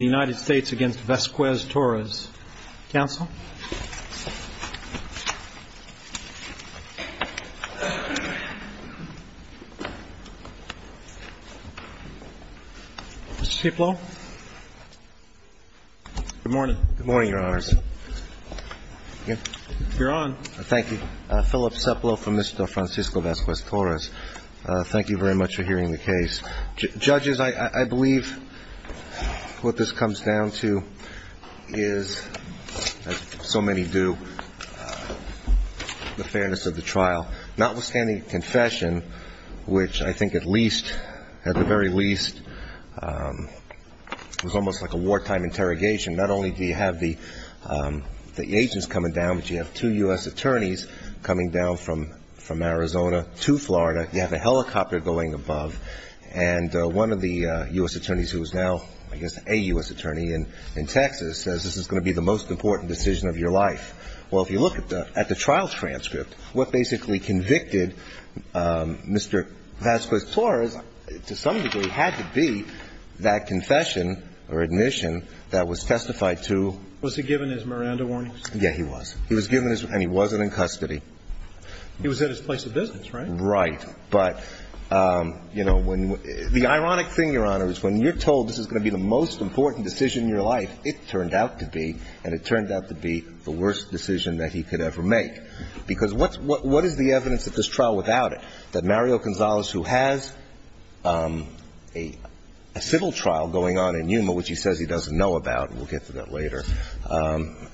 Counsel. Mr. Cieplo. Good morning. Good morning, Your Honors. You're on. Thank you. Philip Cieplo from Mr. Francisco Vasquez-Torres. Thank you very much for hearing the case. Judges, I believe what this comes down to is, as so many do, the fairness of the trial. Notwithstanding confession, which I think at least, at the very least, was almost like a wartime interrogation. Not only do you have the agents coming down, but you have two U.S. attorneys coming down from Arizona to Florida. You have a helicopter going above. And one of the U.S. attorneys, who is now, I guess, a U.S. attorney in Texas, says this is going to be the most important decision of your life. Well, if you look at the trial transcript, what basically convicted Mr. Vasquez-Torres, to some degree, had to be that confession or admission that was testified to. Was he given his Miranda warnings? Yes, he was. He was given his, and he wasn't in custody. He was at his place of business, right? Right. But, you know, the ironic thing, Your Honor, is when you're told this is going to be the most important decision in your life, it turned out to be. And it turned out to be the worst decision that he could ever make. Because what is the evidence at this trial without it? That Mario Gonzalez, who has a civil trial going on in Yuma, which he says he doesn't know about, and we'll get to that later,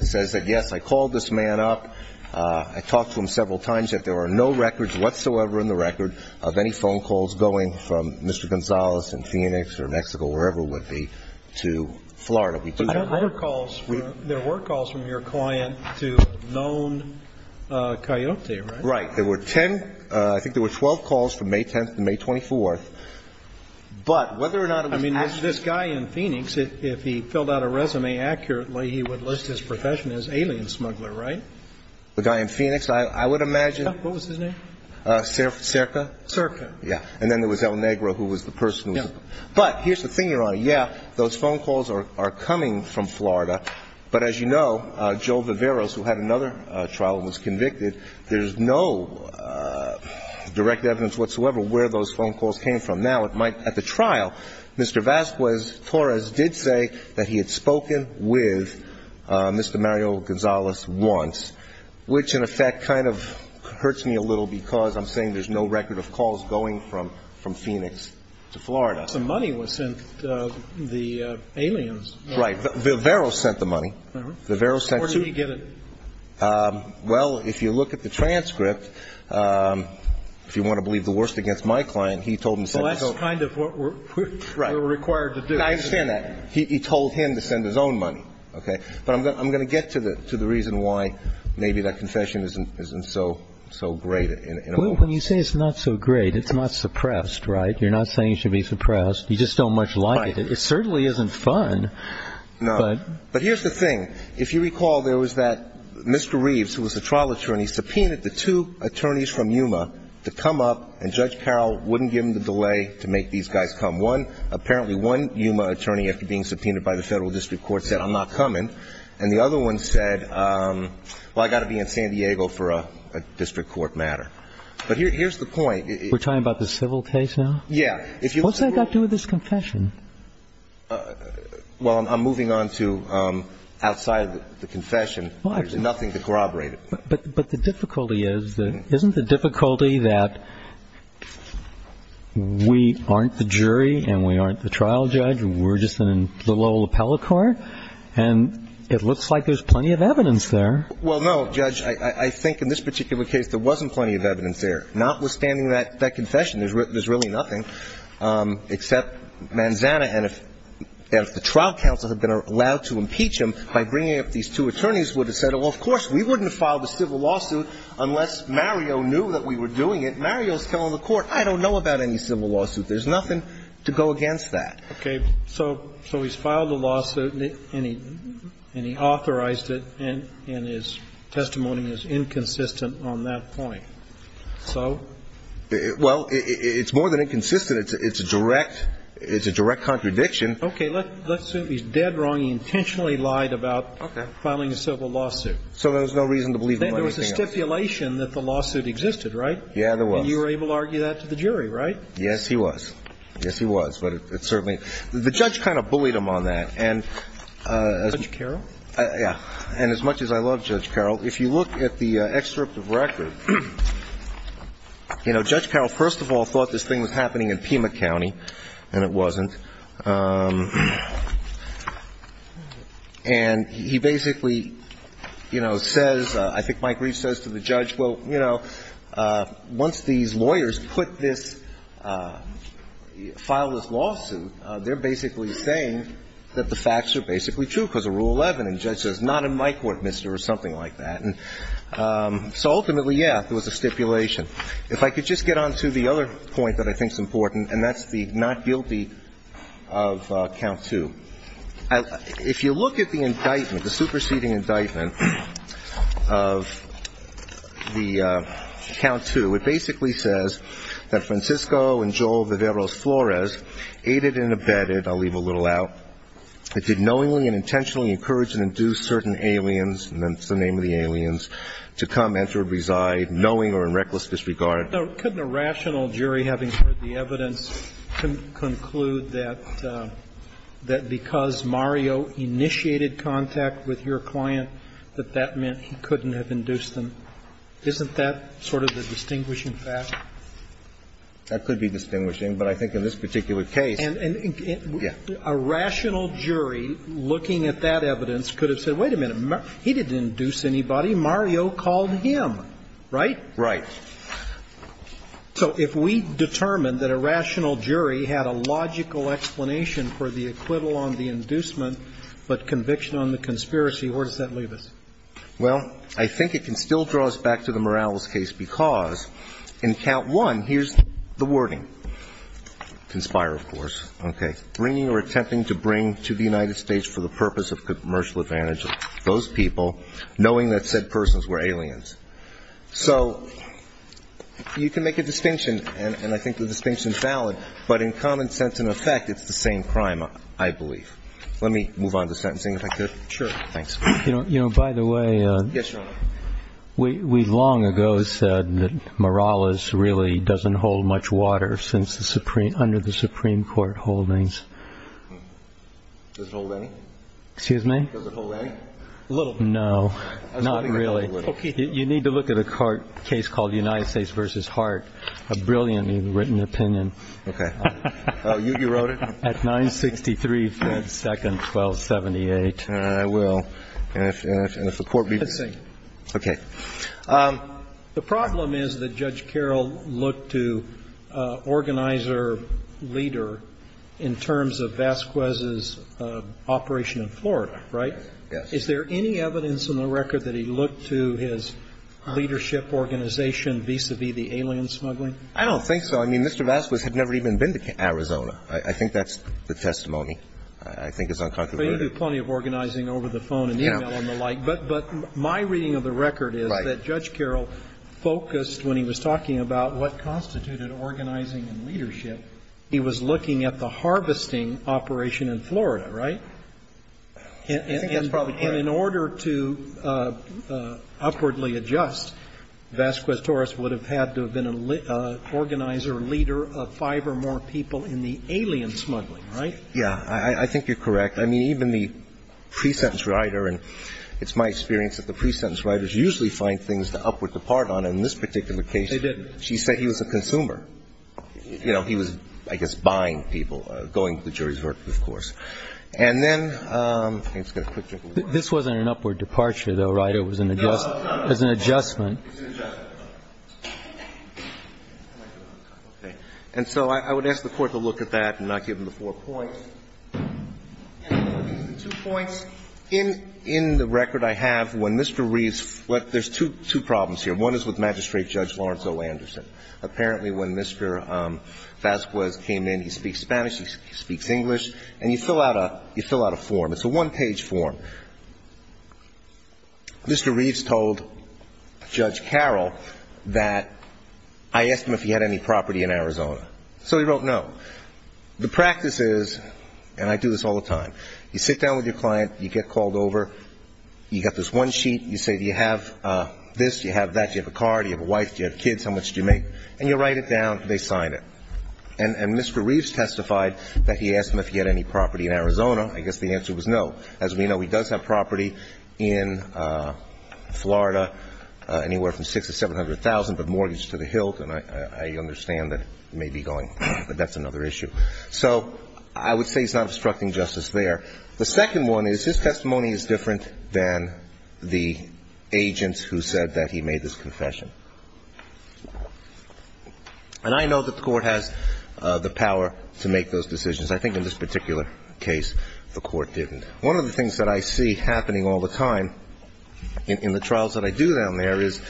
says that, yes, I called this man up. I talked to him several times. There are no records whatsoever in the record of any phone calls going from Mr. Gonzalez in Phoenix or Mexico, wherever it would be, to Florida. But there were calls from your client to known coyote, right? Right. There were ten – I think there were 12 calls from May 10th to May 24th. But whether or not it was actually – I would imagine – What was his name? Cerca. Cerca. Yeah. And then there was El Negro, who was the person who – Yeah. But here's the thing, Your Honor. Yeah, those phone calls are coming from Florida. But as you know, Joe Viveros, who had another trial and was convicted, there's no direct evidence whatsoever where those phone calls came from. And now it might – at the trial, Mr. Vazquez-Torres did say that he had spoken with Mr. Mario Gonzalez once, which in effect kind of hurts me a little because I'm saying there's no record of calls going from Phoenix to Florida. But the money was sent – the aliens. Right. Viveros sent the money. Viveros sent – Where did he get it? Well, if you look at the transcript, if you want to believe the worst against my client, he told him – So that's kind of what we're required to do. Right. And I understand that. He told him to send his own money, okay? But I'm going to get to the reason why maybe that confession isn't so great in a way. Well, when you say it's not so great, it's not suppressed, right? You're not saying it should be suppressed. You just don't much like it. Right. It certainly isn't fun. No. But here's the thing. If you recall, there was that Mr. Reeves, who was the trial attorney, subpoenaed the two attorneys from Yuma to come up, and Judge Carroll wouldn't give him the delay to make these guys come. One – apparently one Yuma attorney, after being subpoenaed by the Federal District Court, said, I'm not coming. And the other one said, well, I've got to be in San Diego for a district court matter. But here's the point. We're talking about the civil case now? Yeah. What's that got to do with this confession? Well, I'm moving on to outside of the confession. There's nothing to corroborate it. But the difficulty is, isn't the difficulty that we aren't the jury and we aren't the trial judge and we're just a little old appellate court? And it looks like there's plenty of evidence there. Well, no, Judge. I think in this particular case there wasn't plenty of evidence there. Notwithstanding that confession, there's really nothing, except Manzana, and if the trial counsel had been allowed to impeach him by bringing up these two attorneys, would have said, well, of course, we wouldn't have filed a civil lawsuit unless Mario knew that we were doing it. Mario's telling the court, I don't know about any civil lawsuit. There's nothing to go against that. Okay. So he's filed a lawsuit and he authorized it, and his testimony is inconsistent on that point. So? Well, it's more than inconsistent. It's a direct contradiction. Okay. Let's assume he's dead wrong. He intentionally lied about filing a civil lawsuit. So there was no reason to believe him about anything else. Then there was a stipulation that the lawsuit existed, right? Yeah, there was. And you were able to argue that to the jury, right? Yes, he was. Yes, he was. But it certainly – the judge kind of bullied him on that. Judge Carroll? Yeah. And as much as I love Judge Carroll, if you look at the excerpt of record, you know, Judge Carroll first of all thought this thing was happening in Pima County, and it wasn't. And he basically, you know, says – I think Mike Reeves says to the judge, well, you know, once these lawyers put this – file this lawsuit, they're basically saying that the facts are basically true because of Rule 11. And the judge says, not in my court, mister, or something like that. And so ultimately, yeah, there was a stipulation. If I could just get on to the other point that I think is important, and that's the not guilty of Count 2. If you look at the indictment, the superseding indictment of the Count 2, it basically says that Francisco and Joel Viveiros Flores aided and abetted – I'll leave a little out – that did knowingly and intentionally encourage and induce certain aliens – and that's the name of the aliens – to come, enter, reside, knowing or in reckless disregard. Now, couldn't a rational jury, having heard the evidence, conclude that because Mario initiated contact with your client, that that meant he couldn't have induced them? Isn't that sort of the distinguishing fact? That could be distinguishing, but I think in this particular case – Yeah. A rational jury, looking at that evidence, could have said, wait a minute, he didn't induce anybody. Mario called him, right? Right. So if we determined that a rational jury had a logical explanation for the acquittal on the inducement but conviction on the conspiracy, where does that leave us? Well, I think it can still draw us back to the Morales case because in Count 1, here's the wording. Conspire, of course. Okay. Bringing or attempting to bring to the United States for the purpose of commercial advantage of those people, knowing that said persons were aliens. So you can make a distinction, and I think the distinction is valid, but in common sense and effect, it's the same crime, I believe. Let me move on to sentencing, if I could. Sure. Thanks. You know, by the way, we long ago said that Morales really doesn't hold much water under the Supreme Court holdings. Does it hold any? Excuse me? Does it hold any? A little bit. No, not really. Okay. You need to look at a case called United States v. Hart, a brilliantly written opinion. Okay. You wrote it? At 963 Fed Second 1278. I will. Let's see. Okay. The problem is that Judge Carroll looked to organizer leader in terms of Vasquez's operation in Florida, right? Yes. Is there any evidence in the record that he looked to his leadership organization vis-a-vis the alien smuggling? I don't think so. I mean, Mr. Vasquez had never even been to Arizona. I think that's the testimony. I think it's unconcerning. But he did plenty of organizing over the phone and e-mail and the like. But my reading of the record is that Judge Carroll focused, when he was talking about what constituted organizing and leadership, he was looking at the harvesting operation in Florida, right? I think that's probably correct. And in order to upwardly adjust, Vasquez-Torres would have had to have been an organizer leader of five or more people in the alien smuggling, right? Yeah. I think you're correct. I mean, even the pre-sentence writer, and it's my experience that the pre-sentence writers usually find things to upward depart on. And in this particular case, she said he was a consumer. You know, he was, I guess, buying people, going to the jury's verdict, of course. And then I'm going to get a quick drink of water. This wasn't an upward departure, though, right? It was an adjustment. No, no, no. It was an adjustment. It was an adjustment. Okay. And so I would ask the Court to look at that and not give him the four points. Two points. In the record I have, when Mr. Reeves – there's two problems here. One is with Magistrate Judge Lawrence O. Anderson. Apparently when Mr. Vasquez came in, he speaks Spanish, he speaks English, and you fill out a form. It's a one-page form. Mr. Reeves told Judge Carroll that I asked him if he had any property in Arizona. So he wrote no. The practice is, and I do this all the time, you sit down with your client, you get called over, you get this one sheet, you say, do you have this, do you have that, do you have a car, do you have a wife, do you have kids, how much do you make? And you write it down, they sign it. And Mr. Reeves testified that he asked him if he had any property in Arizona. I guess the answer was no. As we know, he does have property in Florida, anywhere from $600,000 to $700,000, but mortgage to the Hilton. I understand that it may be going, but that's another issue. So I would say he's not obstructing justice there. The second one is his testimony is different than the agent who said that he made this confession. And I know that the Court has the power to make those decisions. I think in this particular case, the Court didn't. One of the things that I see happening all the time in the trials that I do down there is,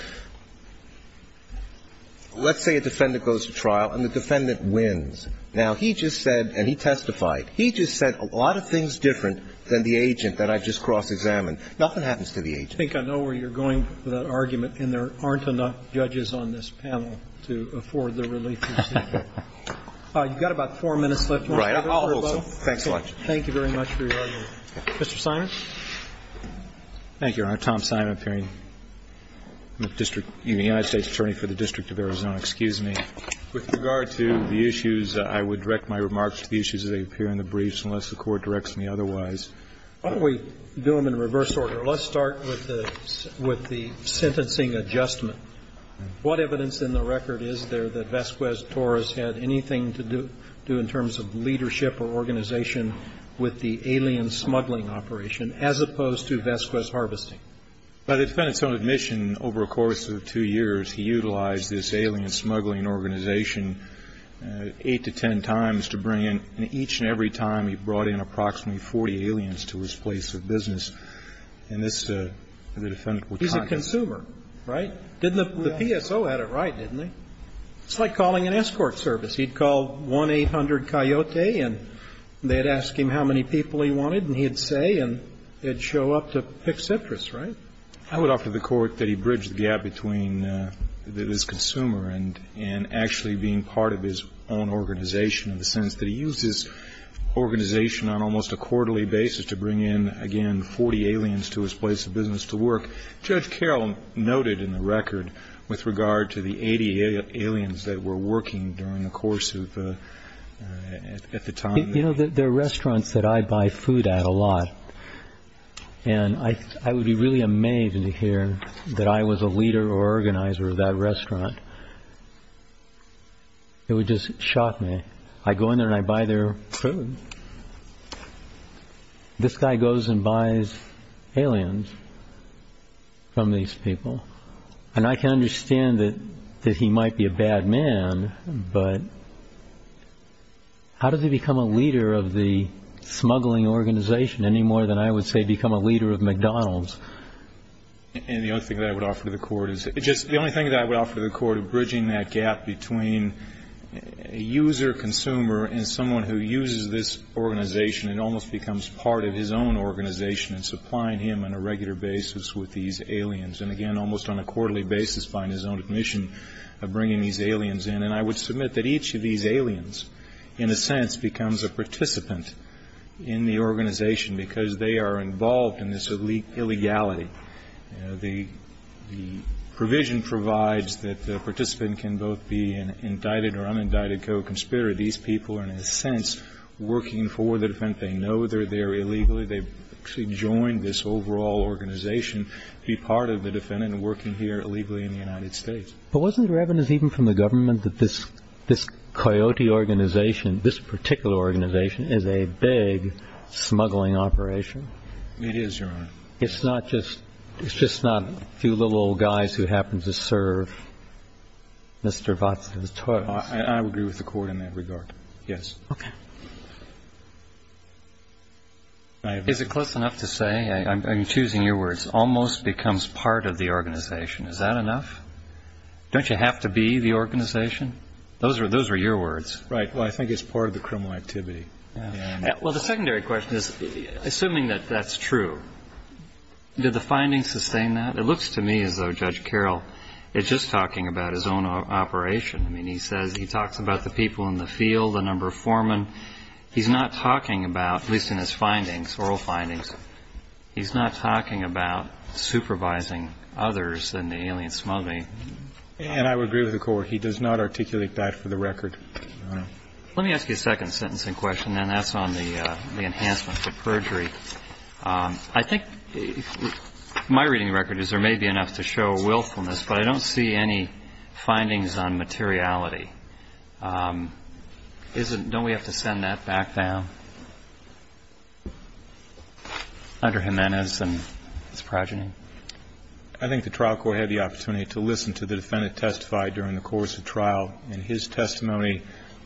let's say a defendant goes to trial and the defendant wins. Now, he just said, and he testified, he just said a lot of things different than the agent that I just cross-examined. Nothing happens to the agent. I think I know where you're going with that argument, and there aren't enough judges on this panel to afford the relief you seek. You've got about four minutes left. Right. I'll hold still. Thanks a lot. Thank you very much for your argument. Mr. Simon. Thank you, Your Honor. Tom Simon, appearing. I'm a district unit, United States attorney for the District of Arizona. Excuse me. With regard to the issues, I would direct my remarks to the issues that appear in the briefs unless the Court directs me otherwise. Why don't we do them in reverse order? Let's start with the sentencing adjustment. What evidence in the record is there that Vasquez-Torres had anything to do in terms of leadership or organization with the alien smuggling operation, as opposed to Vasquez harvesting? By the defendant's own admission, over a course of two years, he utilized this alien smuggling organization eight to ten times to bring in, and each and every time he brought in approximately 40 aliens to his place of business. And this, the defendant was confident. He's a consumer, right? Didn't the PSO have it right, didn't they? It's like calling an escort service. He'd call 1-800-COYOTE, and they'd ask him how many people he wanted, and he'd say, and they'd show up to pick citrus, right? I would offer the Court that he bridged the gap between his consumer and actually being part of his own organization in the sense that he used his organization on almost a quarterly basis to bring in, again, 40 aliens to his place of business to work. Judge Carroll noted in the record with regard to the 80 aliens that were working during the course of the time. You know, there are restaurants that I buy food at a lot, and I would be really amazed to hear that I was a leader or organizer of that restaurant. It would just shock me. I go in there, and I buy their food. This guy goes and buys aliens from these people. And I can understand that he might be a bad man, but how does he become a leader of the smuggling organization any more than I would say become a leader of McDonald's? And the only thing that I would offer to the Court is just the only thing that I would offer to the Court between a user-consumer and someone who uses this organization and almost becomes part of his own organization and supplying him on a regular basis with these aliens, and again, almost on a quarterly basis, by his own admission, bringing these aliens in. And I would submit that each of these aliens, in a sense, becomes a participant in the organization because they are involved in this illegality. The provision provides that the participant can both be an indicted or unindicted co-conspirator. These people are, in a sense, working for the defendant. They know they're there illegally. They've actually joined this overall organization to be part of the defendant and working here illegally in the United States. But wasn't there evidence even from the government that this coyote organization, this particular organization, is a big smuggling operation? It is, Your Honor. It's not just a few little old guys who happen to serve Mr. Watson's toilets. I would agree with the Court in that regard, yes. Okay. Is it close enough to say, I'm choosing your words, almost becomes part of the organization? Is that enough? Don't you have to be the organization? Those are your words. Right. Well, I think it's part of the criminal activity. Well, the secondary question is, assuming that that's true, did the findings sustain that? It looks to me as though Judge Carroll is just talking about his own operation. I mean, he says he talks about the people in the field, the number of foremen. He's not talking about, at least in his findings, oral findings, he's not talking about supervising others in the alien smuggling. And I would agree with the Court. He does not articulate that for the record, Your Honor. Let me ask you a second sentencing question, and that's on the enhancement for perjury. I think my reading of the record is there may be enough to show willfulness, but I don't see any findings on materiality. Don't we have to send that back down? Dr. Jimenez and Ms. Progeny. I think the trial court had the opportunity to listen to the defendant testify during the course of trial, and his testimony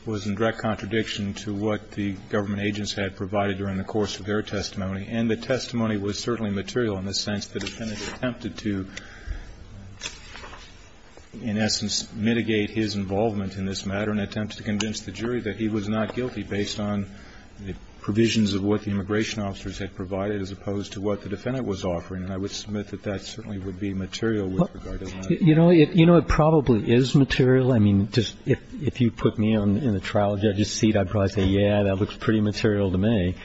was in direct contradiction to what the government agents had provided during the course of their testimony. And the testimony was certainly material in the sense the defendant attempted to, in essence, mitigate his involvement in this matter and attempted to convince the jury that he was not guilty based on the provisions of what the immigration officers had provided as opposed to what the defendant was offering. And I would submit that that certainly would be material with regard to that. You know, it probably is material. I mean, just if you put me in the trial judge's seat, I'd probably say, yeah, that looks pretty material to me.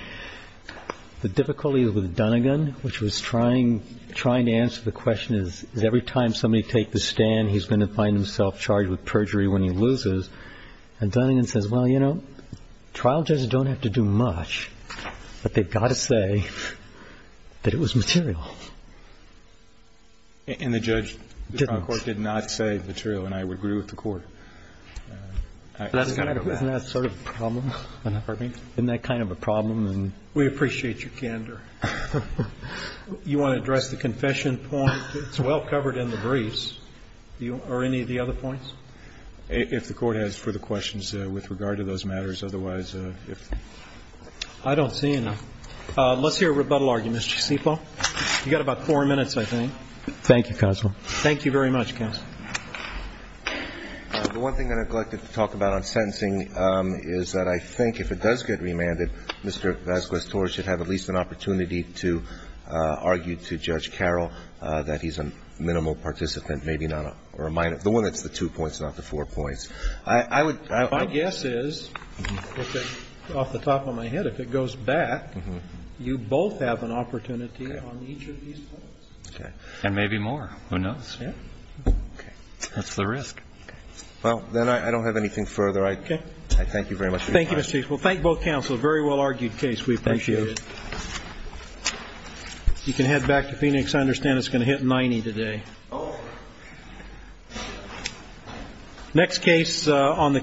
The difficulty with Dunnegan, which was trying to answer the question is every time somebody takes the stand, he's going to find himself charged with perjury when he loses. And Dunnegan says, well, you know, trial judges don't have to do much, but they've got to say that it was material. And the judge did not say material, and I would agree with the Court. Isn't that sort of a problem? Pardon me? Isn't that kind of a problem? We appreciate your candor. You want to address the confession point? It's well covered in the briefs. Are any of the other points? If the Court has further questions with regard to those matters. Otherwise, if they're not. I don't see any. Let's hear a rebuttal argument, Mr. Cisipo. You've got about four minutes, I think. Thank you, counsel. Thank you very much, counsel. The one thing I neglected to talk about on sentencing is that I think if it does get remanded, Mr. Vasquez-Torres should have at least an opportunity to argue to Judge Carroll that he's a minimal participant, maybe not a minor. The one that's the two points, not the four points. My guess is, off the top of my head, if it goes back, you both have an opportunity on each of these points. Okay. And maybe more. Who knows? Okay. That's the risk. Well, then I don't have anything further. I thank you very much. Thank you, Mr. Cisipo. Thank both counsel. A very well argued case. We appreciate it. Thank you. You can head back to Phoenix. I understand it's going to hit 90 today. Next case on the case.